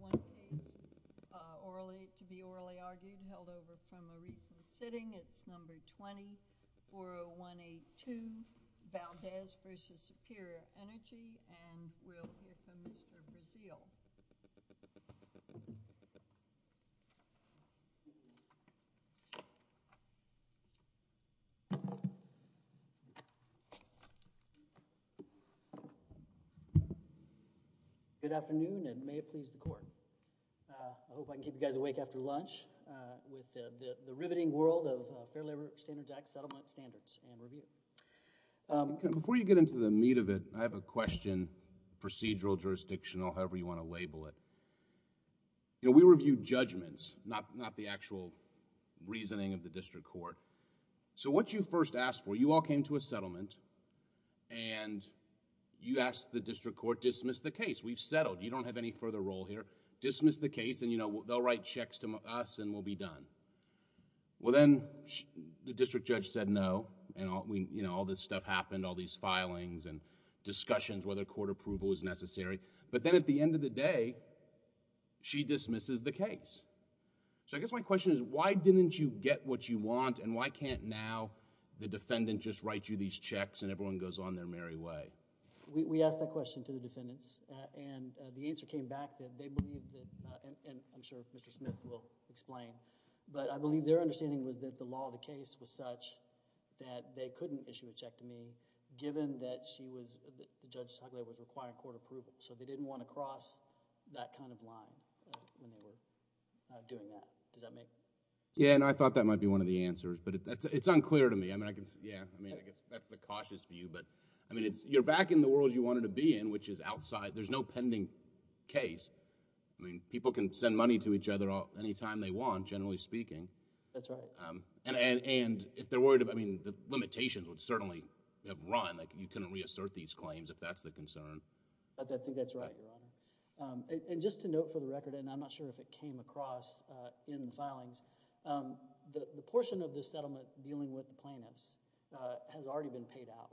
One case, to be orally argued, held over from a recent sitting, it's number 20-40182 Valdez v. Superior Energy, and we'll hear from Mr. Brazeal. Good afternoon, and may it please the Court. I hope I can keep you guys awake after lunch with the riveting world of Fair Labor Standards Act settlement standards and review. Before you get into the meat of it, I have a question, procedural, jurisdictional, however you want to label it. You know, we review judgments, not the actual reasoning of the district court. So what you first asked for, you all came to a settlement and you asked the district court, dismiss the case. We've settled. You don't have any further role here. Dismiss the case and, you know, they'll write checks to us and we'll be done. Well then, the district judge said no, and all this stuff happened, all these filings and discussions whether court approval is necessary. But then at the end of the day, she dismisses the case. So I guess my question is, why didn't you get what you want and why can't now the defendant just write you these checks and everyone goes on their merry way? We asked that question to the defendants and the answer came back that they believe, and I'm sure Mr. Smith will explain, but I believe their understanding was that the law of the case was such that they couldn't issue a check to me given that she was, Judge Togliatti was requiring court approval. So they didn't want to cross that kind of line when they were doing that. Does that make sense? Yeah, and I thought that might be one of the answers, but it's unclear to me. Yeah, I mean, I guess that's the cautious view, but I mean, you're back in the world you wanted to be in, which is outside. There's no pending case. I mean, people can send money to each other anytime they want, generally speaking. That's right. And if they're worried about, I mean, the limitations would certainly have run, like you couldn't reassert these claims if that's the concern. I think that's right, Your Honor. And just to note for the record, and I'm not sure if it came across in the filings, the portion of the settlement dealing with the plaintiffs has already been paid out.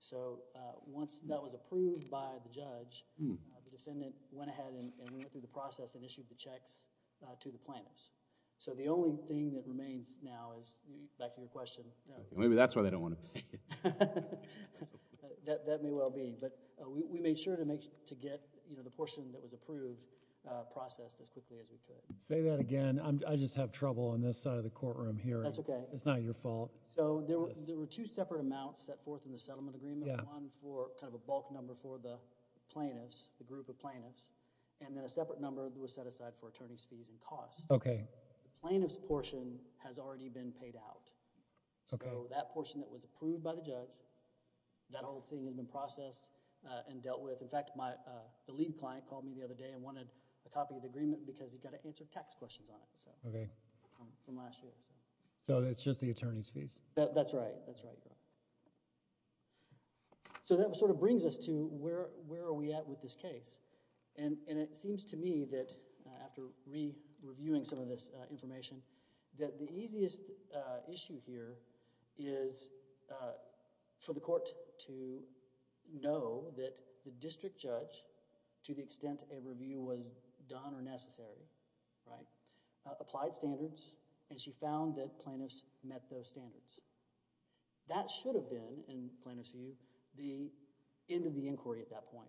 So once that was approved by the judge, the defendant went ahead and went through the process and issued the checks to the plaintiffs. So the only thing that remains now is, back to your question... Maybe that's why they don't want to pay. That may well be, but we made sure to get the portion that was approved processed as quickly as we could. Say that again. I just have trouble on this side of the courtroom hearing. That's okay. It's not your fault. So there were two separate amounts set forth in the settlement agreement, one for kind of a bulk number for the plaintiffs, the group of plaintiffs, and then a separate number that was set aside for attorney's fees and costs. Okay. The plaintiff's portion has already been paid out. Okay. So that portion that was approved by the judge, that whole thing has been processed and dealt with. In fact, the lead client called me the other day and wanted a copy of the agreement because it's got to answer tax questions on it. Okay. From last year. So it's just the attorney's fees? That's right. That's right. So that sort of brings us to where are we at with this case? And it seems to me that after re-reviewing some of this information that the easiest issue here is for the court to know that the district judge, to the extent a review was done or necessary, right, applied standards and she found that plaintiffs met those standards. That should have been, in plaintiff's view, the end of the inquiry at that point.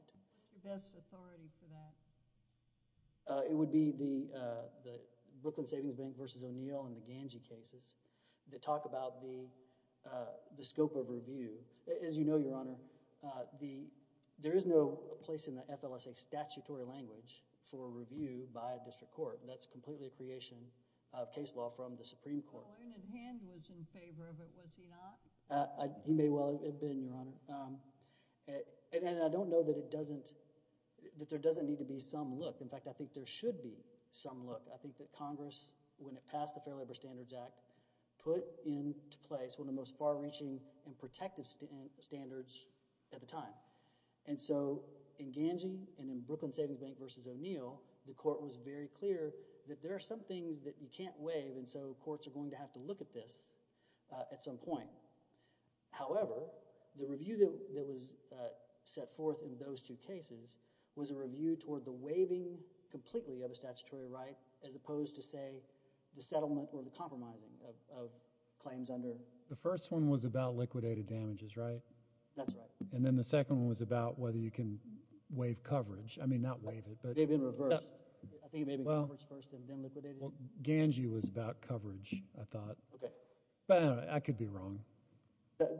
Who's the best authority for that? It would be the Brooklyn Savings Bank v. O'Neill and the Ganji cases that talk about the scope of review. As you know, Your Honor, there is no place in the FLSA statutory language for review by a district court. That's completely a creation of case law from the Supreme Court. Well, Ernest Hand was in favor of it, was he not? He may well have been, Your Honor. And I don't know that it doesn't – that there doesn't need to be some look. In fact, I think there should be some look. I think that Congress, when it passed the Fair Labor Standards Act, put into place one of the most far-reaching and protective standards at the time. And so in Ganji and in Brooklyn Savings Bank v. O'Neill, the court was very clear that there are some things that you can't waive, and so courts are going to have to look at this at some point. However, the review that was set forth in those two cases was a review toward the waiving completely of a statutory right as opposed to, say, the settlement or the compromising of claims under – The first one was about liquidated damages, right? That's right. And then the second one was about whether you can waive coverage. I mean not waive it, but – It may have been reversed. I think it may have been coverage first and then liquidated. Well, Ganji was about coverage, I thought. Okay. But I don't know. I could be wrong.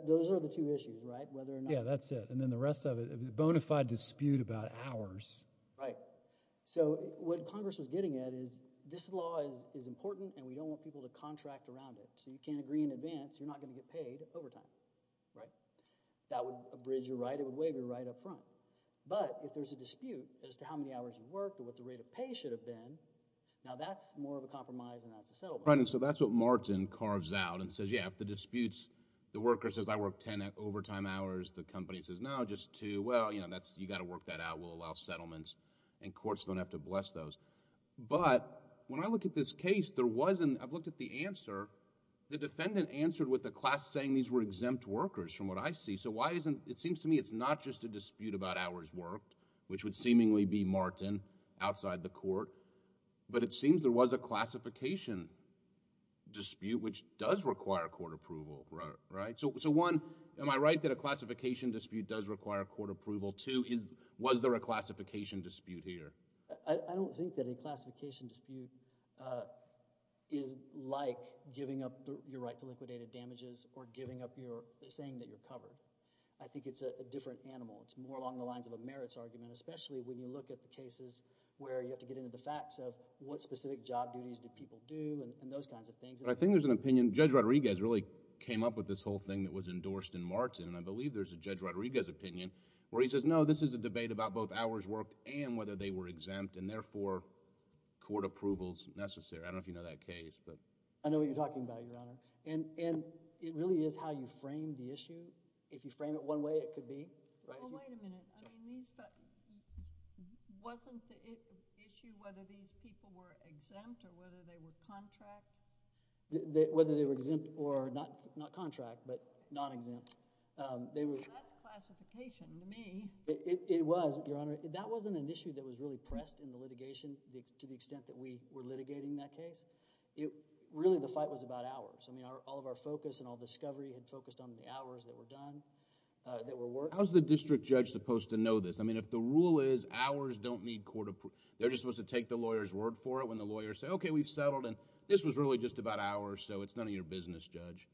Those are the two issues, right, whether or not – Yeah, that's it. And then the rest of it, a bona fide dispute about hours. Right. So what Congress was getting at is this law is important, and we don't want people to contract around it. So you can't agree in advance. You're not going to get paid over time, right? That would abridge your right. It would waive your right up front. But if there's a dispute as to how many hours you've worked or what the rate of pay should have been, now that's more of a compromise than that's a settlement. Right, and so that's what Martin carves out and says, yeah, if the dispute's – the worker says, I worked ten overtime hours. The company says, no, just two. Well, you've got to work that out. We'll allow settlements, and courts don't have to bless those. But when I look at this case, there wasn't – I've looked at the answer. The defendant answered with a class saying these were exempt workers from what I see. So why isn't – it seems to me it's not just a dispute about hours worked, which would seemingly be Martin, outside the court. But it seems there was a classification dispute, which does require court approval, right? So one, am I right that a classification dispute does require court approval? Two, was there a classification dispute here? I don't think that a classification dispute is like giving up your right to liquidated damages or giving up your – saying that you're covered. I think it's a different animal. It's more along the lines of a merits argument, especially when you look at the cases where you have to get into the facts of what specific job duties do people do and those kinds of things. But I think there's an opinion – Judge Rodriguez really came up with this whole thing that was endorsed in Martin. And I believe there's a Judge Rodriguez opinion where he says, no, this is a debate about both hours worked and whether they were exempt, and therefore, court approval is necessary. I don't know if you know that case. I know what you're talking about, Your Honor. And it really is how you frame the issue. If you frame it one way, it could be. Well, wait a minute. I mean these – wasn't the issue whether these people were exempt or whether they were contract? Whether they were exempt or not contract but non-exempt. That's classification to me. It was, Your Honor. That wasn't an issue that was really pressed in the litigation to the extent that we were litigating that case. Really, the fight was about hours. I mean all of our focus and all discovery had focused on the hours that were done, that were worked. How is the district judge supposed to know this? I mean if the rule is hours don't need court approval, they're just supposed to take the lawyer's word for it when the lawyers say, okay, we've settled. And this was really just about hours, so it's none of your business, Judge.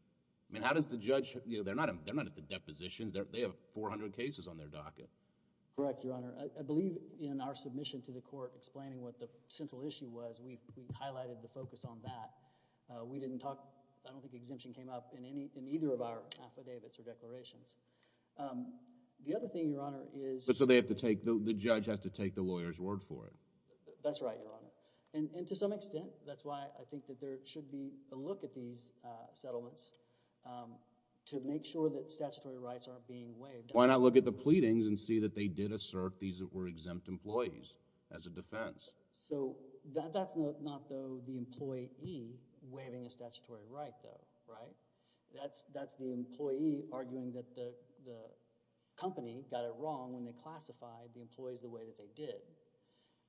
I mean how does the judge – they're not at the deposition. They have 400 cases on their docket. Correct, Your Honor. I believe in our submission to the court explaining what the central issue was, we highlighted the focus on that. We didn't talk – I don't think exemption came up in either of our affidavits or declarations. The other thing, Your Honor, is – So they have to take – the judge has to take the lawyer's word for it. That's right, Your Honor. And to some extent, that's why I think that there should be a look at these settlements to make sure that statutory rights aren't being waived. Why not look at the pleadings and see that they did assert these were exempt employees as a defense? So that's not, though, the employee waiving a statutory right, though, right? That's the employee arguing that the company got it wrong when they classified the employees the way that they did.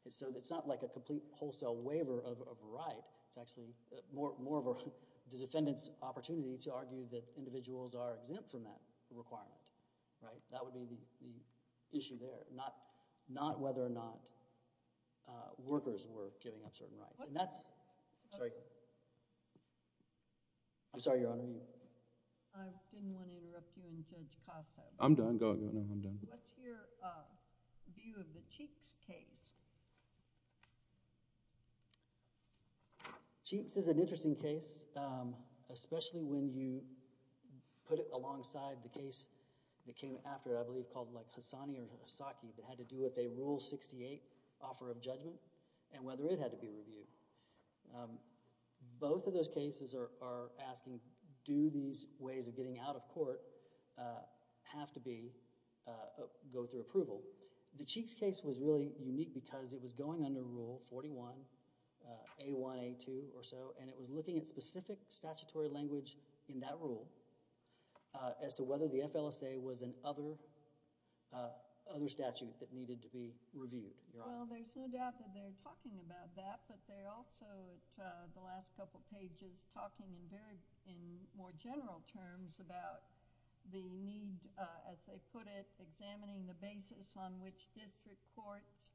So it's not like a complete wholesale waiver of a right. It's actually more of a defendant's opportunity to argue that individuals are exempt from that requirement, right? That would be the issue there, not whether or not workers were giving up certain rights. And that's – I'm sorry. I'm sorry, Your Honor. I didn't want to interrupt you and Judge Casa. I'm done. Go ahead. What's your view of the Cheeks case? Cheeks is an interesting case, especially when you put it alongside the case that came after it, I believe, called Hassani or Hasaki, that had to do with a Rule 68 offer of judgment and whether it had to be reviewed. Both of those cases are asking, do these ways of getting out of court have to be – go through approval? The Cheeks case was really unique because it was going under Rule 41, A1, A2 or so, and it was looking at specific statutory language in that rule as to whether the FLSA was an other statute that needed to be reviewed. Well, there's no doubt that they're talking about that, but they're also, at the last couple pages, talking in more general terms about the need, as they put it, examining the basis on which district courts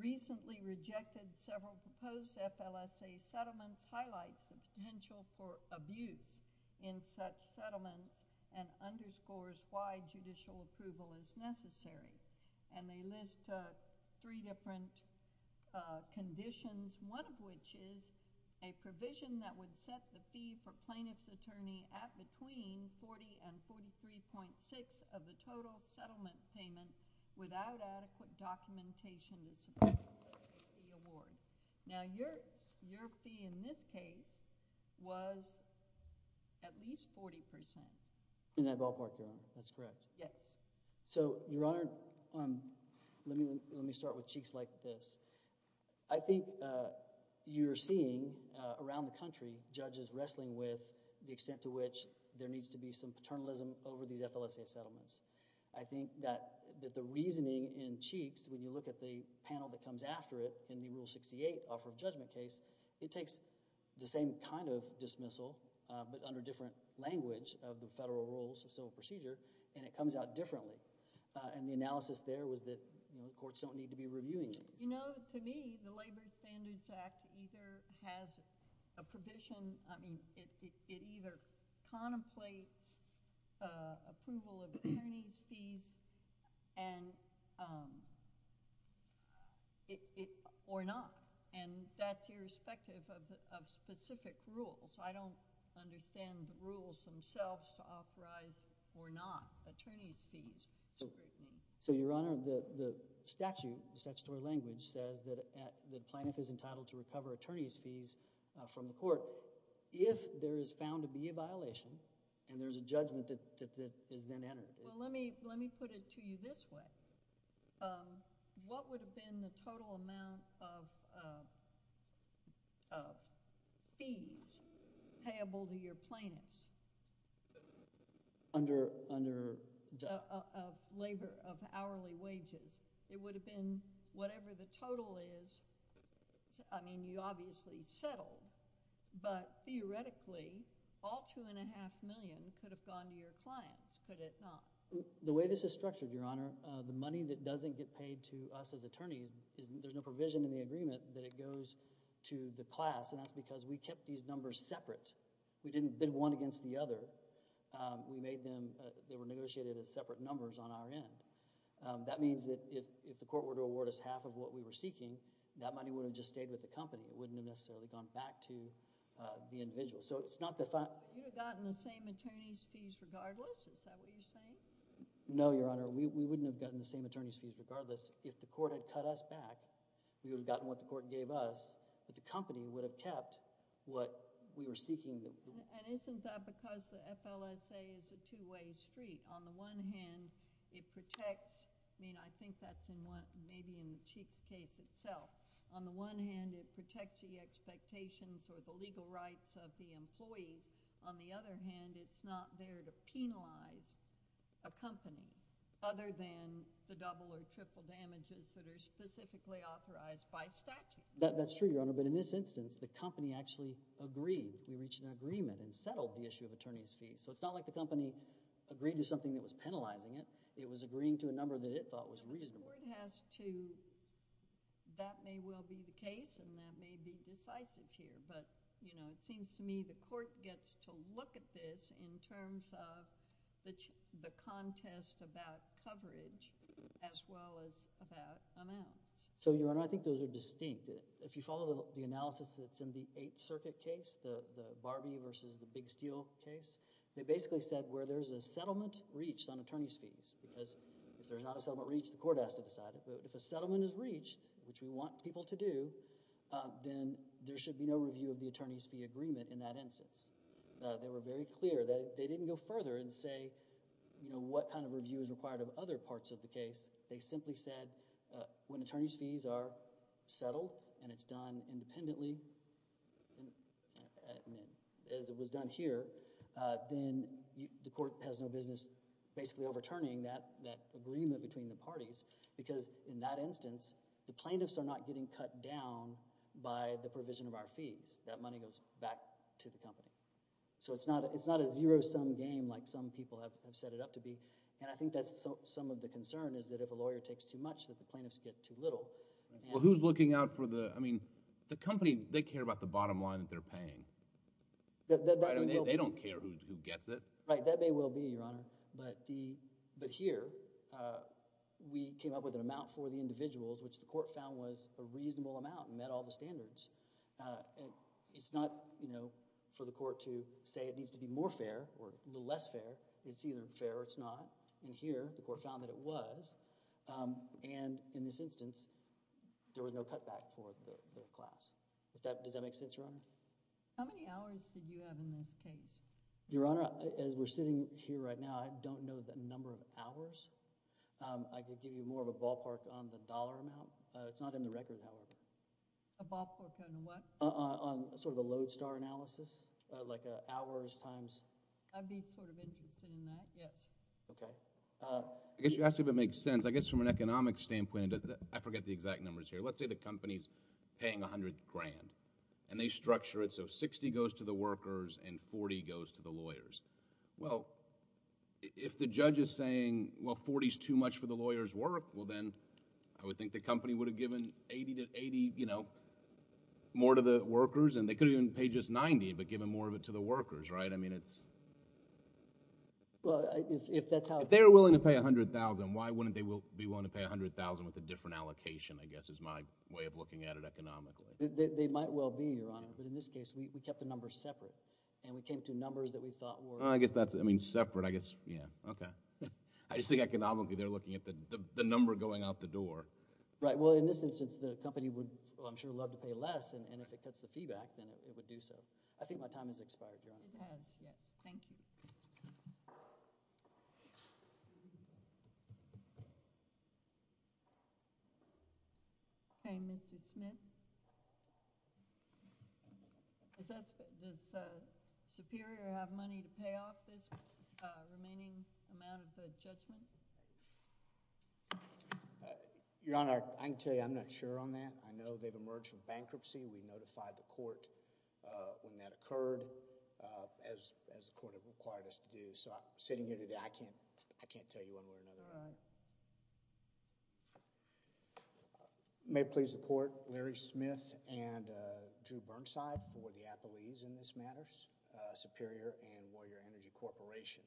recently rejected several proposed FLSA settlements, highlights the potential for abuse in such settlements, and underscores why judicial approval is necessary. And they list three different conditions, one of which is a provision that would set the fee for plaintiff's attorney at between $40 and $43.6 of the total settlement payment without adequate documentation to support the award. Now, your fee in this case was at least 40%. In that ballpark, Your Honor. That's correct. Yes. So, Your Honor, let me start with Cheeks like this. I think you're seeing around the country judges wrestling with the extent to which there needs to be some paternalism over these FLSA settlements. I think that the reasoning in Cheeks, when you look at the panel that comes after it in the Rule 68 Offer of Judgment case, it takes the same kind of dismissal but under different language of the federal rules of civil procedure, and it comes out differently. And the analysis there was that courts don't need to be reviewing it. You know, to me, the Labor Standards Act either has a provision, I mean, it either contemplates approval of attorney's fees or not. And that's irrespective of specific rules. I don't understand the rules themselves to authorize or not attorney's fees. So, Your Honor, the statute, the statutory language says that plaintiff is entitled to recover attorney's fees from the court if there is found to be a violation and there's a judgment that is then entered. Well, let me put it to you this way. What would have been the total amount of fees payable to your plaintiffs? Under debt. Labor of hourly wages. It would have been whatever the total is. I mean, you obviously settled, but theoretically, all $2.5 million could have gone to your clients, could it not? The way this is structured, Your Honor, the money that doesn't get paid to us as attorneys, there's no provision in the agreement that it goes to the class, and that's because we kept these numbers separate. We didn't bid one against the other. We made them, they were negotiated as separate numbers on our end. That means that if the court were to award us half of what we were seeking, that money would have just stayed with the company. It wouldn't have necessarily gone back to the individual. So, it's not the... You would have gotten the same attorney's fees regardless? Is that what you're saying? No, Your Honor. We wouldn't have gotten the same attorney's fees regardless. If the court had cut us back, we would have gotten what the court gave us, but the company would have kept what we were seeking. Isn't that because the FLSA is a two-way street? On the one hand, it protects... I mean, I think that's maybe in the Cheeks case itself. On the one hand, it protects the expectations or the legal rights of the employees. On the other hand, it's not there to penalize a company other than the double or triple damages that are specifically authorized by statute. That's true, Your Honor. But in this instance, the company actually agreed. We reached an agreement and settled the issue of attorney's fees. So, it's not like the company agreed to something that was penalizing it. It was agreeing to a number that it thought was reasonable. The court has to... That may well be the case, and that may be decisive here. But, you know, it seems to me the court gets to look at this in terms of the contest about coverage as well as about amounts. So, Your Honor, I think those are distinct. If you follow the analysis that's in the Eighth Circuit case, the Barbie versus the Big Steel case, they basically said where there's a settlement reached on attorney's fees because if there's not a settlement reached, the court has to decide it. So, if a settlement is reached, which we want people to do, then there should be no review of the attorney's fee agreement in that instance. They were very clear. They didn't go further and say, you know, what kind of review is required of other parts of the case. They simply said when attorney's fees are settled and it's done independently, as it was done here, then the court has no business basically overturning that agreement between the parties because in that instance, the plaintiffs are not getting cut down by the provision of our fees. That money goes back to the company. So, it's not a zero-sum game like some people have set it up to be, and I think that's some of the concern is that if a lawyer takes too much, that the plaintiffs get too little. Well, who's looking out for the – I mean, the company, they care about the bottom line that they're paying. They don't care who gets it. Right, that may well be, Your Honor. But here, we came up with an amount for the individuals, which the court found was a reasonable amount and met all the standards. It's not, you know, for the court to say it needs to be more fair or a little less fair. It's either fair or it's not, and here the court found that it was, and in this instance, there was no cutback for the class. Does that make sense, Your Honor? How many hours did you have in this case? Your Honor, as we're sitting here right now, I don't know the number of hours. I could give you more of a ballpark on the dollar amount. It's not in the record, however. A ballpark on what? On sort of a lodestar analysis, like hours times – I'd be sort of interested in that, yes. Okay. I guess you asked if it makes sense. I guess from an economic standpoint, I forget the exact numbers here. Let's say the company's paying $100,000, and they structure it so $60,000 goes to the workers and $40,000 goes to the lawyers. Well, if the judge is saying, well, $40,000 is too much for the lawyers' work, well then I would think the company would have given 80, you know, more to the workers, and they could have even paid just $90,000 but given more of it to the workers, right? I mean it's... Well, if that's how... If they were willing to pay $100,000, why wouldn't they be willing to pay $100,000 with a different allocation, I guess is my way of looking at it economically? They might well be, Your Honor, but in this case we kept the numbers separate, and we came to numbers that we thought were... I guess that's... I mean separate, I guess, yeah, okay. I just think economically they're looking at the number going out the door. Right. Well, in this instance, the company would, I'm sure, love to pay less, and if it cuts the feedback, then it would do so. I think my time has expired, Your Honor. It has. Yes. Thank you. Okay. Mr. Smith? Does Superior have money to pay off this remaining amount of judgment? Your Honor, I can tell you I'm not sure on that. I know they've emerged from bankruptcy. We notified the court when that occurred as the court had required us to do, so sitting here today, I can't tell you one way or another. All right. May it please the court, Larry Smith and Drew Burnside for the Appleese in this matter, Superior and Warrior Energy Corporation.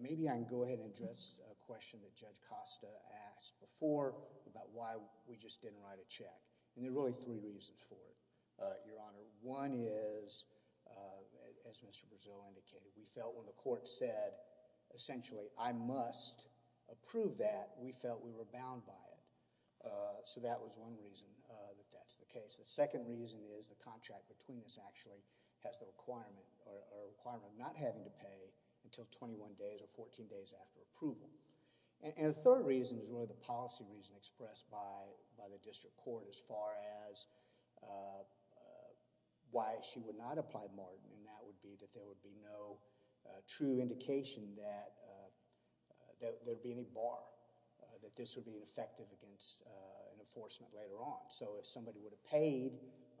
Maybe I can go ahead and address a question that Judge Costa asked before about why we just didn't write a check, and there are really three reasons for it, Your Honor. One is, as Mr. Brazil indicated, we felt when the court said, essentially, I must approve that, we felt we were bound by it. That was one reason that that's the case. The second reason is the contract between us actually has the requirement of not having to pay until twenty-one days or fourteen days after approval. The third reason is really the policy reason expressed by the district court as far as why she would not apply margin, and that would be that there would be no true indication that there would be any bar that this would be effective against an enforcement later on. If somebody would have paid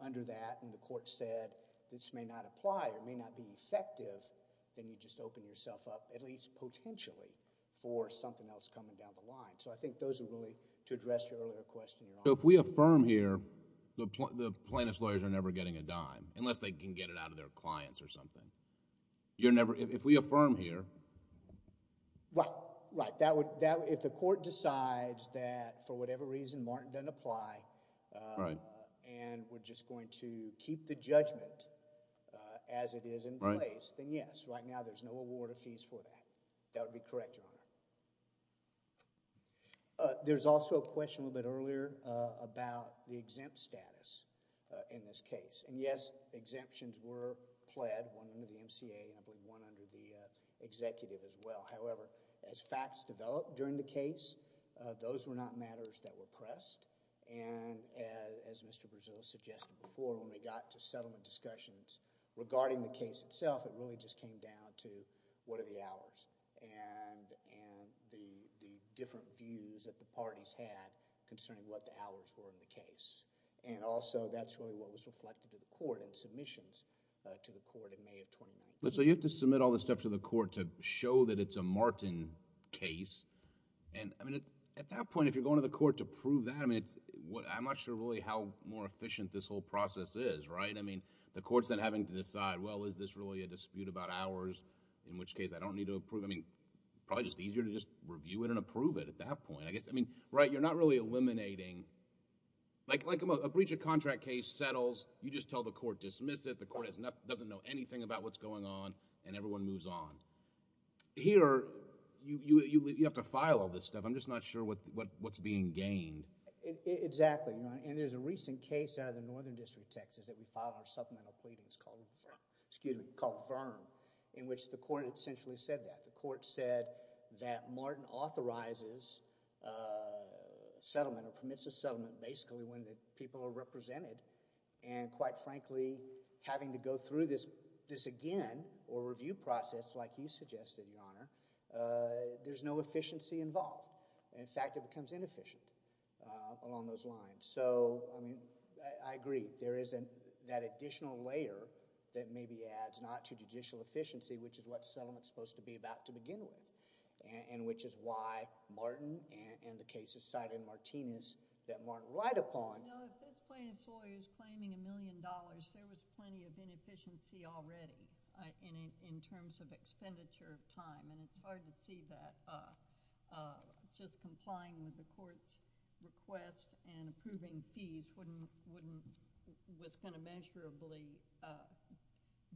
under that and the court said, this may not apply or may not be effective, then you just open yourself up, at least potentially, for something else coming down the line. I think those are really to address your earlier question, Your Honor. If we affirm here, the plaintiff's lawyers are never getting a dime, unless they can get it out of their clients or something. If we affirm here... Right. If the court decides that for whatever reason Martin doesn't apply, and we're just going to keep the judgment as it is in place, then yes, right now there's no award of fees for that. That would be correct, Your Honor. There's also a question a little bit earlier about the exempt status in this case. Yes, exemptions were pled, one under the MCA and I believe one under the executive as well. However, as facts developed during the case, those were not matters that were pressed. As Mr. Berzillo suggested before, when we got to settlement discussions regarding the case itself, it really just came down to what are the hours and the different views that the parties had concerning what the hours were in the case. Also, that's really what was reflected to the court in submissions to the court in May of 2019. You have to submit all the stuff to the court to show that it's a Martin case. At that point, if you're going to the court to prove that, I'm not sure really how more efficient this whole process is, right? The court's then having to decide, well, is this really a dispute about hours, in which case I don't need to approve. Probably just easier to just review it and approve it at that point. You're not really eliminating... like a breach of contract case settles, you just tell the court dismiss it, the court doesn't know anything about what's going on, and everyone moves on. Here, you have to file all this stuff. I'm just not sure what's being gained. Exactly. There's a recent case out of the Northern District of Texas that we filed our supplemental pleadings called VIRM, in which the court essentially said that. Martin authorizes settlement or permits a settlement basically when the people are represented, and quite frankly, having to go through this again or review process like you suggested, Your Honor, there's no efficiency involved. In fact, it becomes inefficient along those lines. I agree. There is that additional layer that maybe adds not to judicial inefficiency, which is why Martin and the cases cited in Martinez that Martin relied upon... No, if this plaintiff's lawyer is claiming a million dollars, there was plenty of inefficiency already in terms of expenditure of time, and it's hard to see that just complying with the court's request and approving fees wouldn't... was going to measurably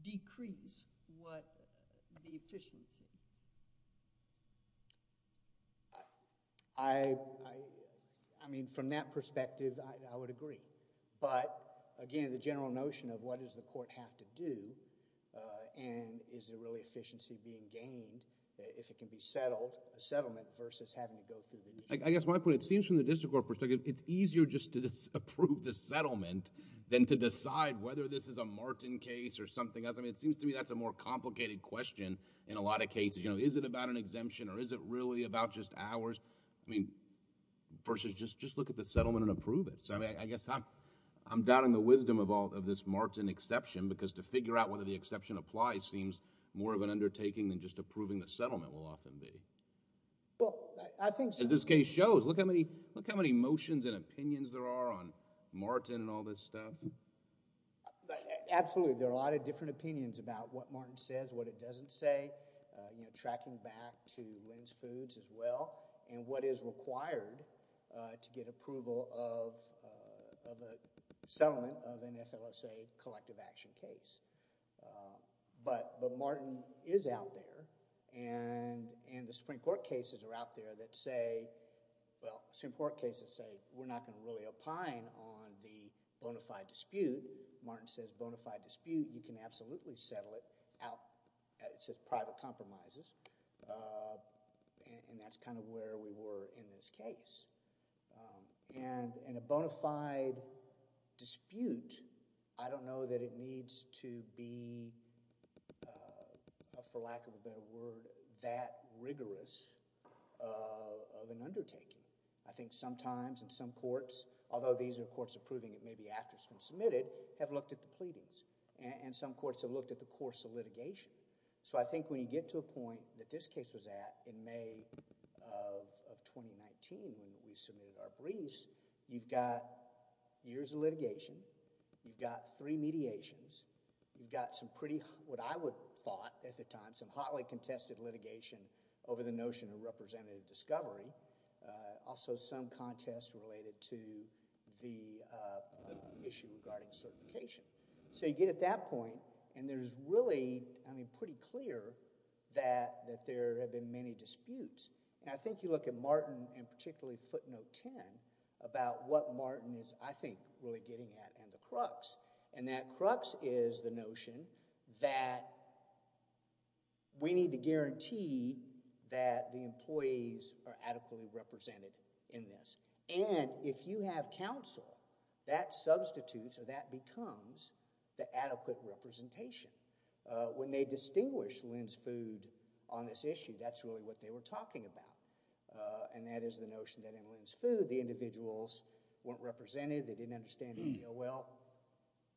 decrease what the efficiency would be. I mean, from that perspective, I would agree, but again, the general notion of what does the court have to do and is there really efficiency being gained if it can be settled, a settlement versus having to go through the... I guess my point, it seems from the district court perspective, it's easier just to approve the settlement than to decide whether this is a Martin case or something else. I mean, it seems to me that's a more complicated question in a lot of cases. You know, is it about an exemption or is it really about just hours? I mean, versus just look at the settlement and approve it. I mean, I guess I'm doubting the wisdom of all of this Martin exception because to figure out whether the exception applies seems more of an undertaking than just approving the settlement will often be. Well, I think... As this case shows, look how many motions and opinions there are on Martin and all this stuff. Absolutely, there are a lot of different opinions about what Martin says, what it doesn't say, you know, tracking back to Lynn's Foods as well and what is required to get approval of a settlement of an FLSA collective action case, but Martin is out there and the Supreme Court cases are out there that say... well, Supreme Court cases say we're not going to really opine on the bonafide dispute. Martin says bonafide dispute, you can absolutely settle it out. It says private compromises and that's kind of where we were in this case. In a bonafide dispute, I don't know that it needs to be, for lack of a better word, that rigorous of an undertaking. I think sometimes in some courts, although these are courts approving it maybe after it's been submitted, have looked at the pleadings and some courts have looked at the course of litigation. So I think when you get to a point that this case was at in May of 2019 when we submitted our briefs, you've got years of litigation, you've got three mediations, you've got some pretty, what I would thought at the time, some hotly contested litigation over the notion of representative discovery, also some contest related to the issue regarding certification. So you get at that point and there's really, I mean, pretty clear that there have been many disputes. And I think you look at Martin and particularly footnote 10 about what Martin is, I think, really getting at and the crux. And that crux is the notion that we need to guarantee that the employees are adequately represented in this. And if you have counsel, that substitutes or that becomes the adequate representation. When they distinguished Lynn's Food on this issue, that's really what they were talking about. And that is the notion that in Lynn's Food, the individuals weren't represented, they didn't understand the DOL.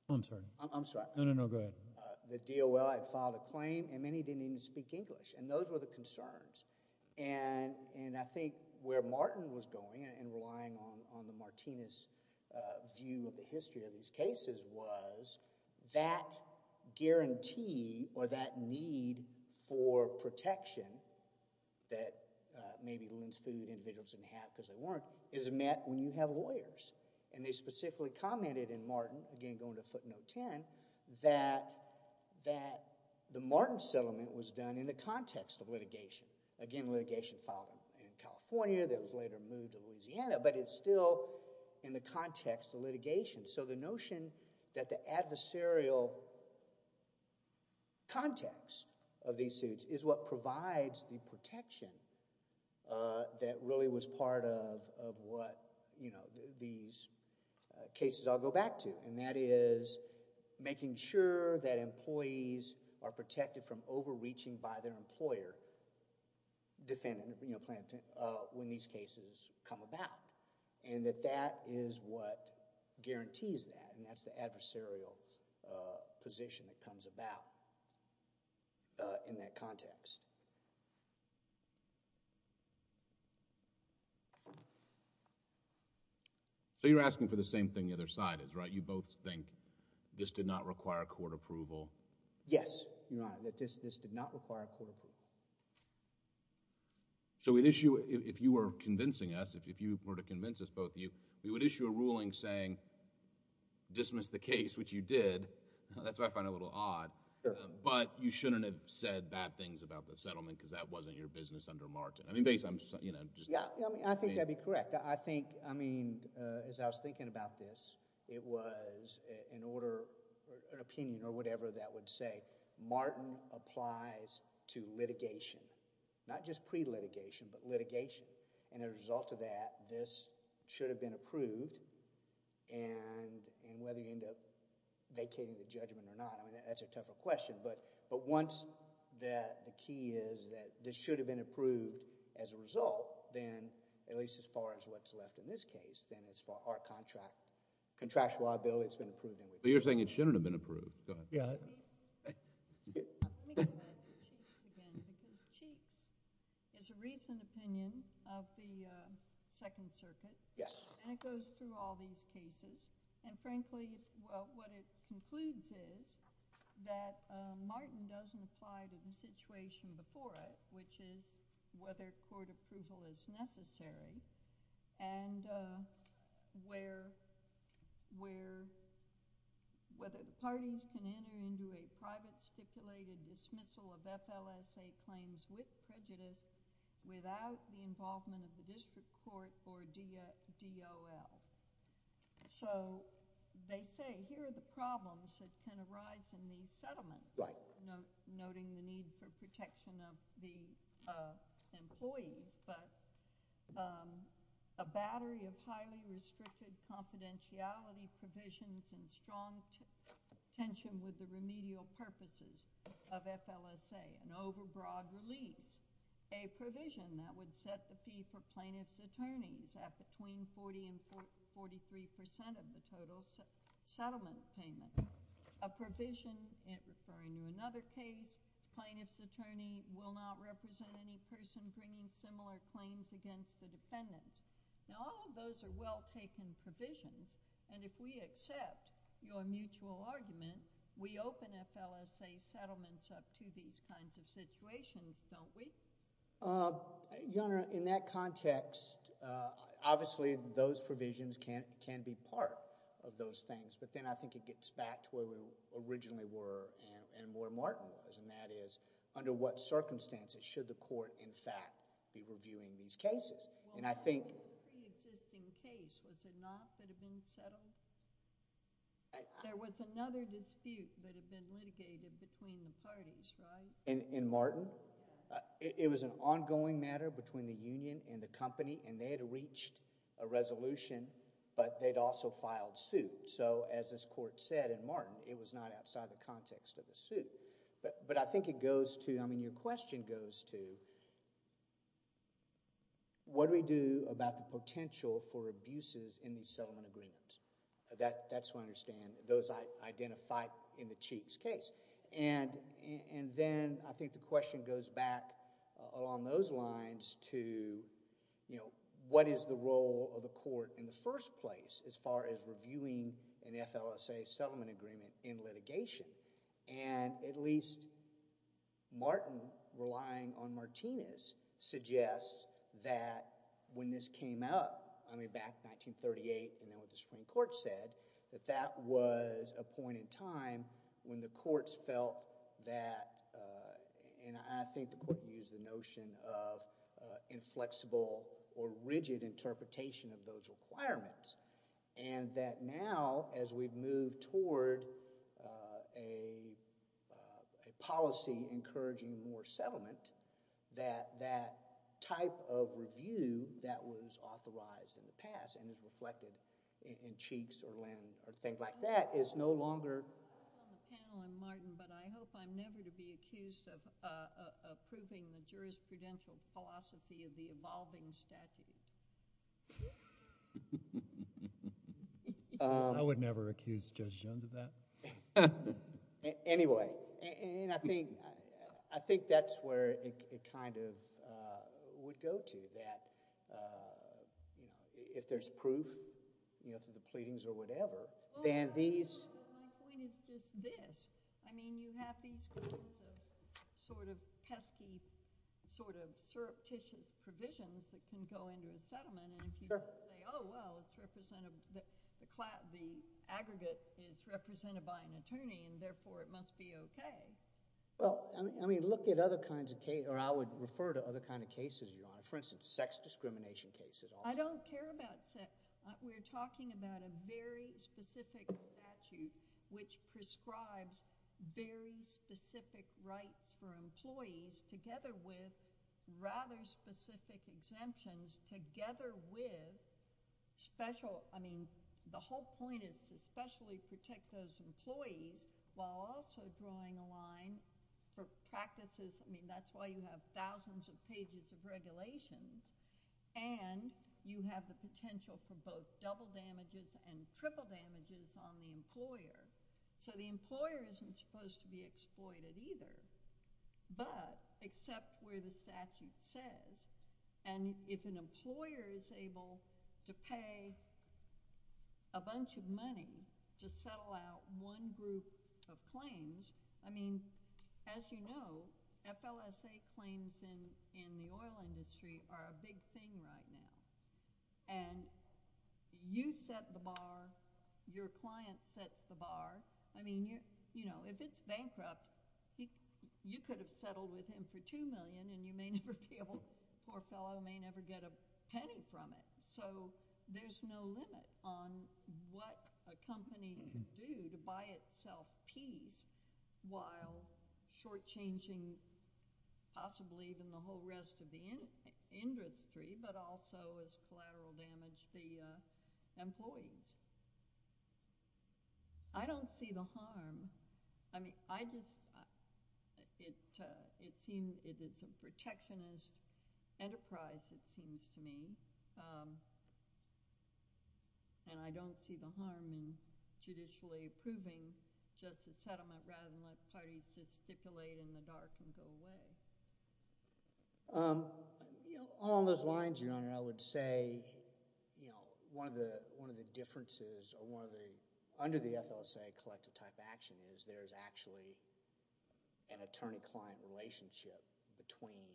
I'm sorry. I'm sorry. No, no, no, go ahead. The DOL had filed a claim and many didn't even speak English. And those were the concerns. And I think where Martin was going and relying on the Martinez view of the history of these cases was that guarantee or that need for protection that maybe Lynn's Food individuals didn't have because they weren't is met when you have lawyers. And they specifically commented in Martin, again going to footnote 10, that the Martin settlement was done in the context of litigation. Again, litigation filed in California that was later moved to Louisiana, but it's still in the context of litigation. So the notion that the adversarial context of these suits is what provides the protection that really was part of what these cases all go back to. And that is making sure that employees are protected from overreaching by their employer when these cases come about. And that that is what guarantees that. And that's the adversarial position that comes about in that context. So you're asking for the same thing the other side is, right? You both think this did not require court approval? Yes, Your Honor. This did not require court approval. So if you were convincing us, if you were to convince us both of you, we would issue a ruling saying dismiss the case, which you did. That's what I find a little odd. But you shouldn't have said bad things about the settlement because that wasn't your business under Martin. I mean, basically, I'm just... Yeah, I mean, I think that'd be correct. I think, I mean, as I was thinking about this, it was an order, an opinion or whatever that would say, Martin applies to litigation, not just pre-litigation, but litigation. And as a result of that, this should have been approved. And whether you end up vacating the judgment or not, I mean, that's a tougher question. But once the key is that this should have been approved as a result, then at least as far as what's left in this case, then as far as our contractual liability, it's been approved anyway. But you're saying it shouldn't have been approved. Go ahead. Yeah. Let me go back to Cheeks again because Cheeks is a recent opinion of the Second Circuit. Yes. And it goes through all these cases. And frankly, what it concludes is that Martin doesn't apply to the situation before it, which is whether court approval is necessary and whether the parties can enter into a private, stipulated dismissal of FLSA claims with prejudice without the involvement of the district court or DOL. So they say here are the problems that can arise in these settlements. Right. Noting the need for protection of the employees, but a battery of highly restricted confidentiality provisions and strong tension with the remedial purposes of FLSA, an overbroad release, a provision that would set the fee for plaintiff's attorneys at between 40% and 43% of the total settlement payment, a provision referring to another case, plaintiff's attorney will not represent any person bringing similar claims against the defendant. Now, all of those are well-taken provisions. And if we accept your mutual argument, we open FLSA settlements up to these kinds of situations, don't we? Your Honor, in that context, obviously, those provisions can be part of those things. But then I think it gets back to where we originally were and where Martin was, and that is under what circumstances should the court, in fact, be reviewing these cases? And I think... Well, the pre-existing case, was it not that had been settled? There was another dispute that had been litigated between the parties, right? In Martin, it was an ongoing matter between the union and the company, and they had reached a resolution, but they'd also filed suit. So as this court said in Martin, it was not outside the context of the suit. But I think it goes to... I mean, your question goes to what do we do about the potential for abuses in these settlement agreements? That's what I understand, those identified in the Cheeks case. And then I think the question goes back along those lines to, you know, what is the role of the court in the first place as far as reviewing an FLSA settlement agreement in litigation? And at least Martin, relying on Martinez, suggests that when this came up, I mean, back in 1938 and then what the Supreme Court said, that that was a point in time when the courts felt that, and I think the court used the notion of inflexible or rigid interpretation of those requirements, and that now as we've moved toward a policy encouraging more settlement, that that type of review that was authorized in the past and is reflected in Cheeks or Linn or things like that is no longer... I was on the panel in Martin, but I hope I'm never to be accused of approving the jurisprudential philosophy of the evolving statute. I would never accuse Judge Jones of that. Anyway, I think that's where it kind of would go to, that if there's proof through the pleadings or whatever, then these... Well, my point is just this. I mean, you have these kinds of sort of pesky, sort of surreptitious provisions that can go into a settlement, and if you say, oh, well, it's represented, the aggregate is represented by an attorney and therefore it must be okay. Well, I mean, look at other kinds of cases, or I would refer to other kinds of cases, Your Honor. For instance, sex discrimination cases. I don't care about sex. We're talking about a very specific statute which prescribes very specific rights for employees together with rather specific exemptions together with special... I mean, the whole point is to specially protect those employees while also drawing a line for practices. I mean, that's why you have thousands of pages of regulations, and you have the potential for both double damages and triple damages on the employer. So the employer isn't supposed to be exploited either, but except where the statute says, and if an employer is able to pay a bunch of money to settle out one group of claims, I mean, as you know, FLSA claims in the oil industry are a big thing right now, and you set the bar, your client sets the bar. I mean, if it's bankrupt, you could have settled with him for $2 million and you may never be able... poor fellow may never get a penny from it. So there's no limit on what a company can do to buy itself peace while shortchanging possibly even the whole rest of the industry, but also as collateral damage the employees. I don't see the harm. I mean, I just... It's a protectionist enterprise, it seems to me, and I don't see the harm in judicially approving just a settlement rather than let parties just stipulate in the dark and go away. Along those lines, Your Honor, I would say one of the differences or one of the—under the FLSA collective type action is there's actually an attorney-client relationship between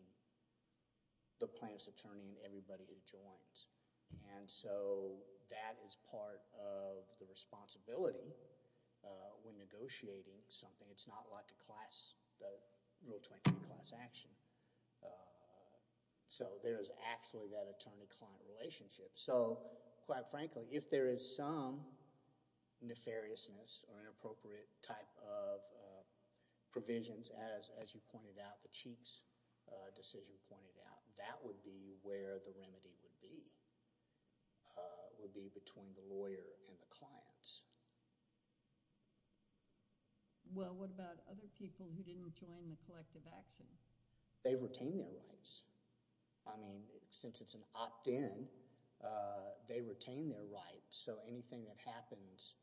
the plaintiff's attorney and everybody who joins, and so that is part of the responsibility when negotiating something. It's not like a class—the Rule 23 class action. So there's actually that attorney-client relationship. So quite frankly, if there is some nefariousness or inappropriate type of provisions, as you pointed out, the Chief's decision pointed out, that would be where the remedy would be, would be between the lawyer and the clients. Well, what about other people who didn't join the collective action? They retain their rights. I mean, since it's an opt-in, they retain their rights, so anything that happens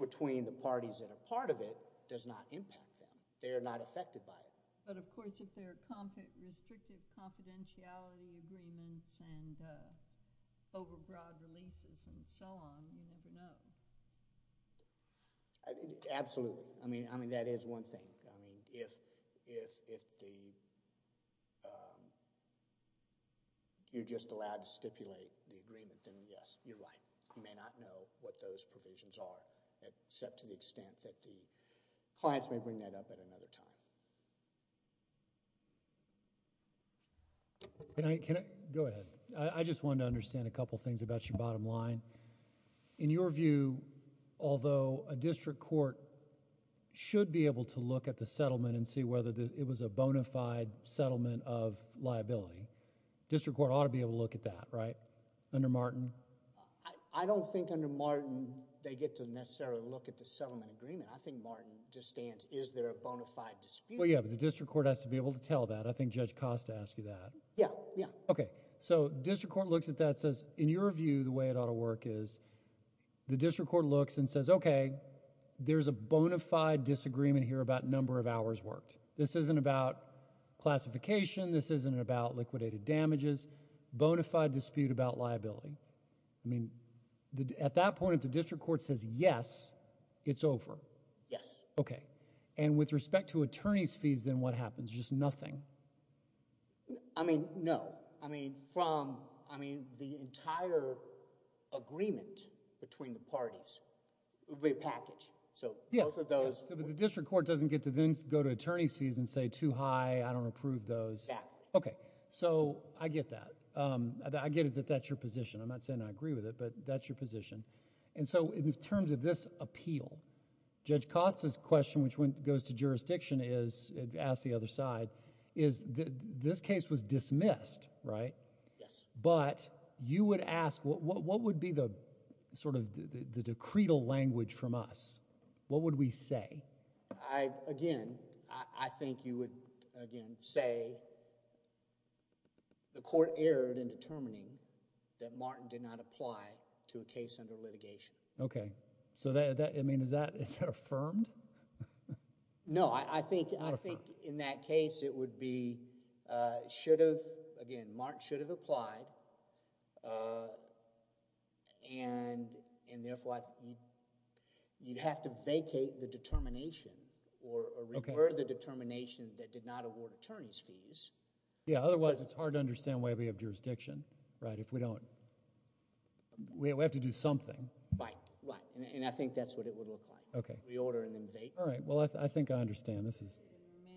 between the parties that are part of it does not impact them. They are not affected by it. But, of course, if there are restricted confidentiality agreements and overbroad releases and so on, you never know. Absolutely. I mean, that is one thing. I mean, if the—you're just allowed to stipulate the agreement, then yes, you're right. You may not know what those provisions are, except to the extent that the clients may bring that up at another time. Go ahead. I just wanted to understand a couple of things about your bottom line. In your view, although a district court should be able to look at the settlement and see whether it was a bona fide settlement of liability, district court ought to be able to look at that, right, under Martin? I don't think under Martin they get to necessarily look at the settlement agreement. I think Martin just stands, is there a bona fide dispute? Well, yeah, but the district court has to be able to tell that. I think Judge Costa asked you that. Yeah, yeah. Okay, so district court looks at that and says, in your view, the way it ought to work is the district court looks and says, okay, there's a bona fide disagreement here about number of hours worked. This isn't about classification. This isn't about liquidated damages. This is a bona fide dispute about liability. I mean, at that point, if the district court says yes, it's over. Yes. Okay, and with respect to attorney's fees, then what happens? Just nothing? I mean, no. I mean, from, I mean, the entire agreement between the parties would be a package. So both of those... Yeah, but the district court doesn't get to then go to attorney's fees and say, too high, I don't approve those. Exactly. Okay, so I get that. I get it that that's your position. I'm not saying I agree with it, but that's your position. And so in terms of this appeal, Judge Costa's question, which goes to jurisdiction, is, asked the other side, is this case was dismissed, right? Yes. But you would ask, what would be the sort of the decretal language from us? What would we say? I, again, I think you would, again, say the court erred in determining that Martin did not apply to a case under litigation. Okay. So that, I mean, is that affirmed? No, I think in that case, it would be, should have, again, Martin should have applied, and therefore, you'd have to vacate the determination... Okay.... or revert the determination that did not award attorney's fees. Yeah, otherwise, it's hard to understand why we have jurisdiction, right, if we don't... we have to do something. Right, right, and I think that's what it would look like. Okay. We order and then vacate. All right, well, I think I understand. This is...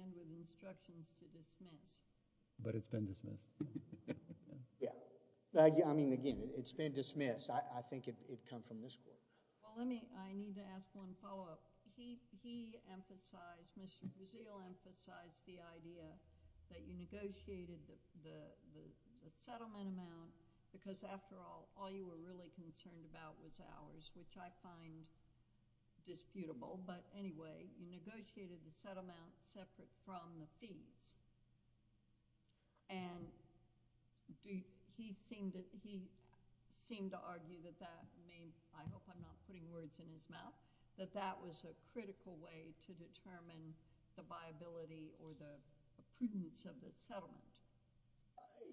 And with instructions to dismiss. But it's been dismissed. Yeah. I mean, again, it's been dismissed. I think it'd come from this court. Well, let me, I need to ask one follow-up. He emphasized, Mr. Brzeal emphasized the idea that you negotiated the settlement amount because after all, all you were really concerned about was ours, which I find disputable, but anyway, you negotiated the settlement separate from the fees. And he seemed to argue that that made... I hope I'm not putting words in his mouth, that that was a critical way to determine the viability or the prudence of the settlement.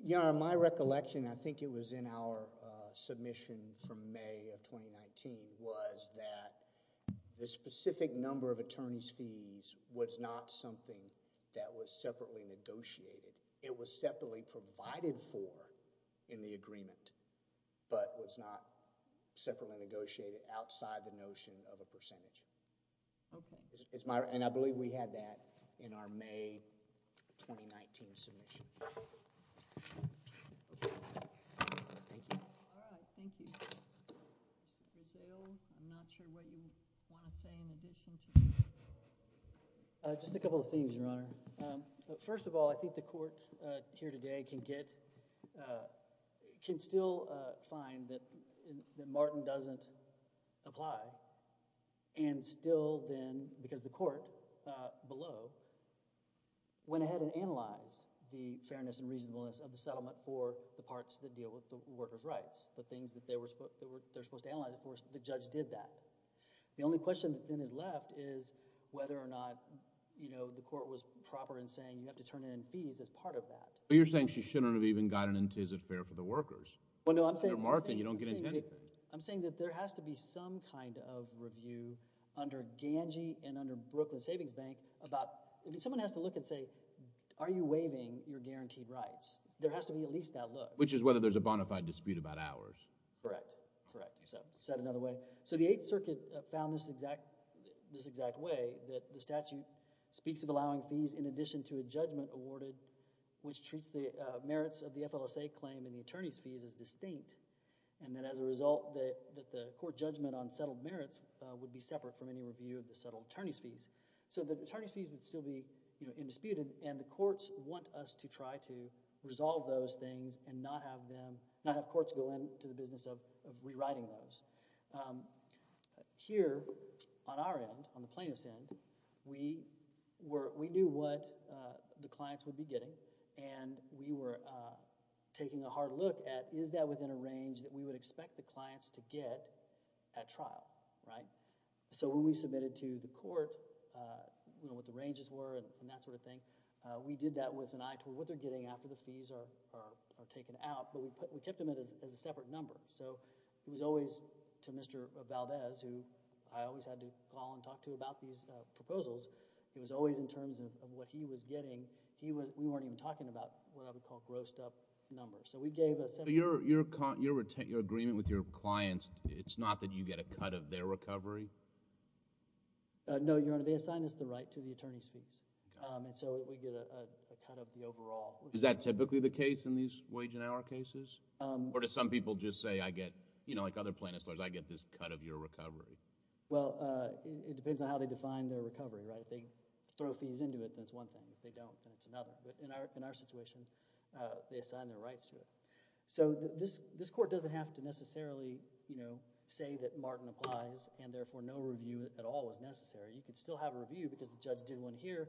You know, in my recollection, I think it was in our submission from May of 2019, was that the specific number of attorney's fees was not something that was separately negotiated. It was separately provided for in the agreement, but was not separately negotiated outside the notion of a percentage. Okay. And I believe we had that in our May 2019 submission. Thank you. All right. Thank you. Mr. Brzeal, I'm not sure what you want to say in addition to... Just a couple of things, Your Honor. First of all, I think the court here today can get... can still find that Martin doesn't apply and still then, because the court below went ahead and analyzed the fairness and reasonableness of the settlement for the parts that deal with the worker's rights, the things that they were supposed to analyze. Of course, the judge did that. The only question that then is left is whether or not, you know, the court was proper in saying you have to turn in fees as part of that. But you're saying she shouldn't have even gotten into, is it fair for the workers? Well, no, I'm saying... They're Martin. You don't get anything. I'm saying that there has to be some kind of review under Gange and under Brooklyn Savings Bank about... if someone has to look and say, are you waiving your guaranteed rights, there has to be at least that look. Which is whether there's a bona fide dispute about hours. Correct. Correct. Is that another way? So the Eighth Circuit found this exact way, that the statute speaks of allowing fees in addition to a judgment awarded which treats the merits of the FLSA claim and the attorney's fees as distinct. And then as a result, that the court judgment on settled merits would be separate from any review of the settled attorney's fees. So the attorney's fees would still be, you know, indisputed and the courts want us to try to resolve those things and not have them... not have courts go into the business of rewriting those. Here, on our end, on the plaintiff's end, we knew what the clients would be getting and we were taking a hard look at is that within a range that we would expect the clients to get at trial, right? So when we submitted to the court, you know, what the ranges were and that sort of thing, we did that with an eye to what they're getting after the fees are taken out, but we kept them as a separate number. So it was always to Mr. Valdez who I always had to call and talk to about these proposals. It was always in terms of what he was getting. We weren't even talking about what I would call grossed up numbers. So we gave... Your agreement with your clients, it's not that you get a cut of their recovery? No, Your Honor. They assigned us the right to the attorney's fees. Okay. And so we get a cut of the overall... Is that typically the case in these wage and hour cases? Or do some people just say I get, you know, like other plaintiff's lawyers, I get this cut of your recovery? Well, it depends on how they define their recovery, right? If they throw fees into it, that's one thing. If they don't, that's another. But in our situation, they assign their rights to it. So this court doesn't have to necessarily, you know, say that Martin applies and therefore no review at all is necessary. You could still have a review because the judge did one here.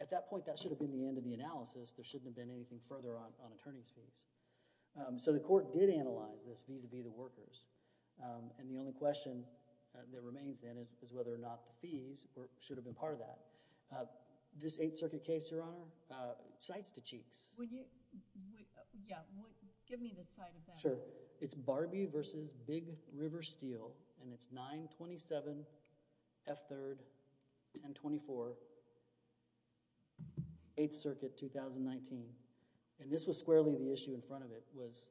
At that point, that should have been the end of the analysis. There shouldn't have been anything further on attorney's fees. So the court did analyze this vis-à-vis the workers. And the only question that remains then is whether or not the fees should have been part of that. This Eighth Circuit case, Your Honor, sights to cheeks. Yeah. Give me the side of that. Sure. So it's Barbie versus Big River Steel, and it's 927F3-1024, Eighth Circuit, 2019. And this was squarely the issue in front of it was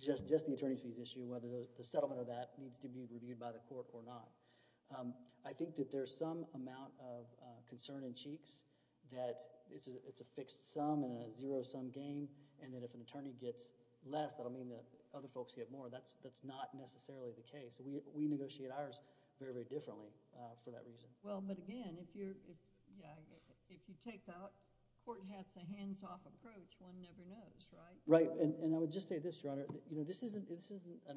just the attorney's fees issue, whether the settlement of that needs to be reviewed by the court or not. I think that there's some amount of concern in cheeks that it's a fixed sum and a zero-sum game, and that if an attorney gets less, that will mean that other folks get more. That's not necessarily the case. We negotiate ours very, very differently for that reason. Well, but again, if you take the court has a hands-off approach, one never knows, right? Right. And I would just say this, Your Honor. This is an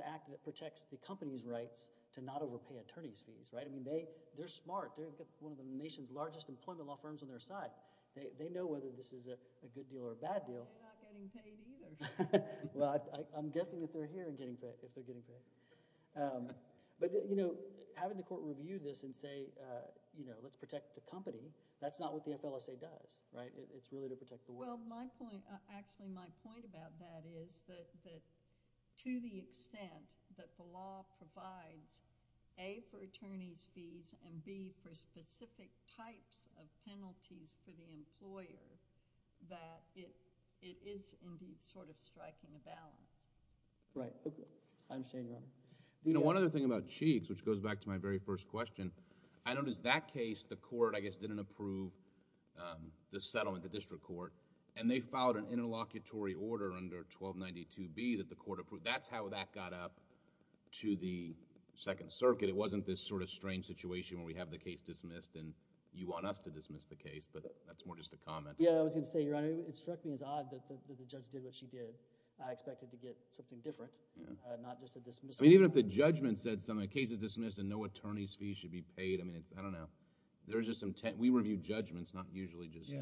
act that protects the company's rights to not overpay attorney's fees, right? I mean, they're smart. They've got one of the nation's largest employment law firms on their side. They know whether this is a good deal or a bad deal. They're not getting paid either. Well, I'm guessing if they're here and getting paid, if they're getting paid. But, you know, having the court review this and say, you know, let's protect the company, that's not what the FLSA does, right? It's really to protect the work. Well, my point, actually my point about that is that to the extent that the law provides, A, for attorney's fees and, B, for specific types of fees for the employer, that it is, indeed, sort of striking a balance. Right. I understand, Your Honor. You know, one other thing about Cheeks, which goes back to my very first question, I noticed that case, the court, I guess, didn't approve the settlement, the district court, and they filed an interlocutory order under 1292B that the court approved. That's how that got up to the Second Circuit. It wasn't this sort of strange situation where we have the case dismissed and you want us to dismiss the case, but that's more just a comment. Yeah, I was going to say, Your Honor, it struck me as odd that the judge did what she did. I expected to get something different, not just a dismissal. I mean, even if the judgment said something, a case is dismissed and no attorney's fees should be paid, I mean, I don't know. There's just some... we review judgments, not usually just... Yeah.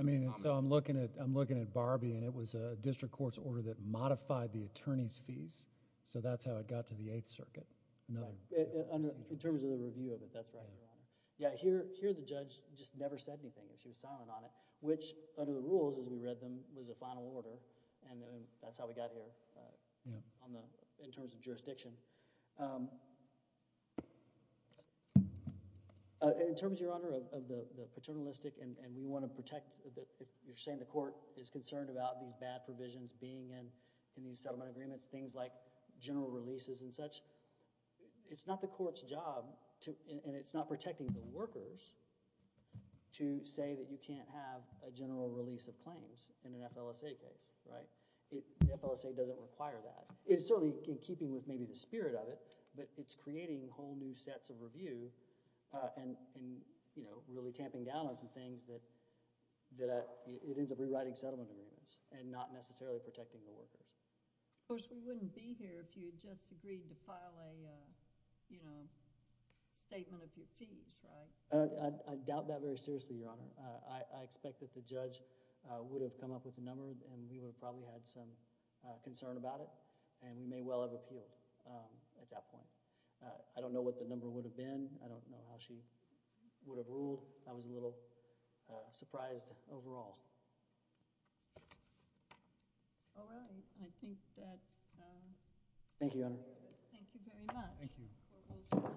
I mean, so I'm looking at Barbie and it was a district court's order that modified the attorney's fees, so that's how it got to the Eighth Circuit. In terms of the review of it, that's right, Your Honor. Yeah, here the judge just never said anything. She was silent on it, which under the rules as we read them was a final order and that's how we got here in terms of jurisdiction. In terms, Your Honor, of the paternalistic and we want to protect... you're saying the court is concerned about these bad provisions being in these settlement agreements, things like general releases and such. It's not the court's job and it's not protecting the workers to say that you can't have a general release of claims in an FLSA case, right? The FLSA doesn't require that. It's certainly in keeping with maybe the spirit of it, but it's creating whole new sets of review and really tamping down on some things that it ends up rewriting settlement agreements and not necessarily protecting the workers. Of course, we wouldn't be here if you just agreed to file a, you know, statement of your fees, right? I doubt that very seriously, Your Honor. I expect that the judge would have come up with a number and we would have probably had some concern about it and we may well have appealed at that point. I don't know what the number would have been. I don't know how she would have ruled. I was a little surprised overall. Well, I think that— Thank you, Your Honor. Thank you very much. Thank you.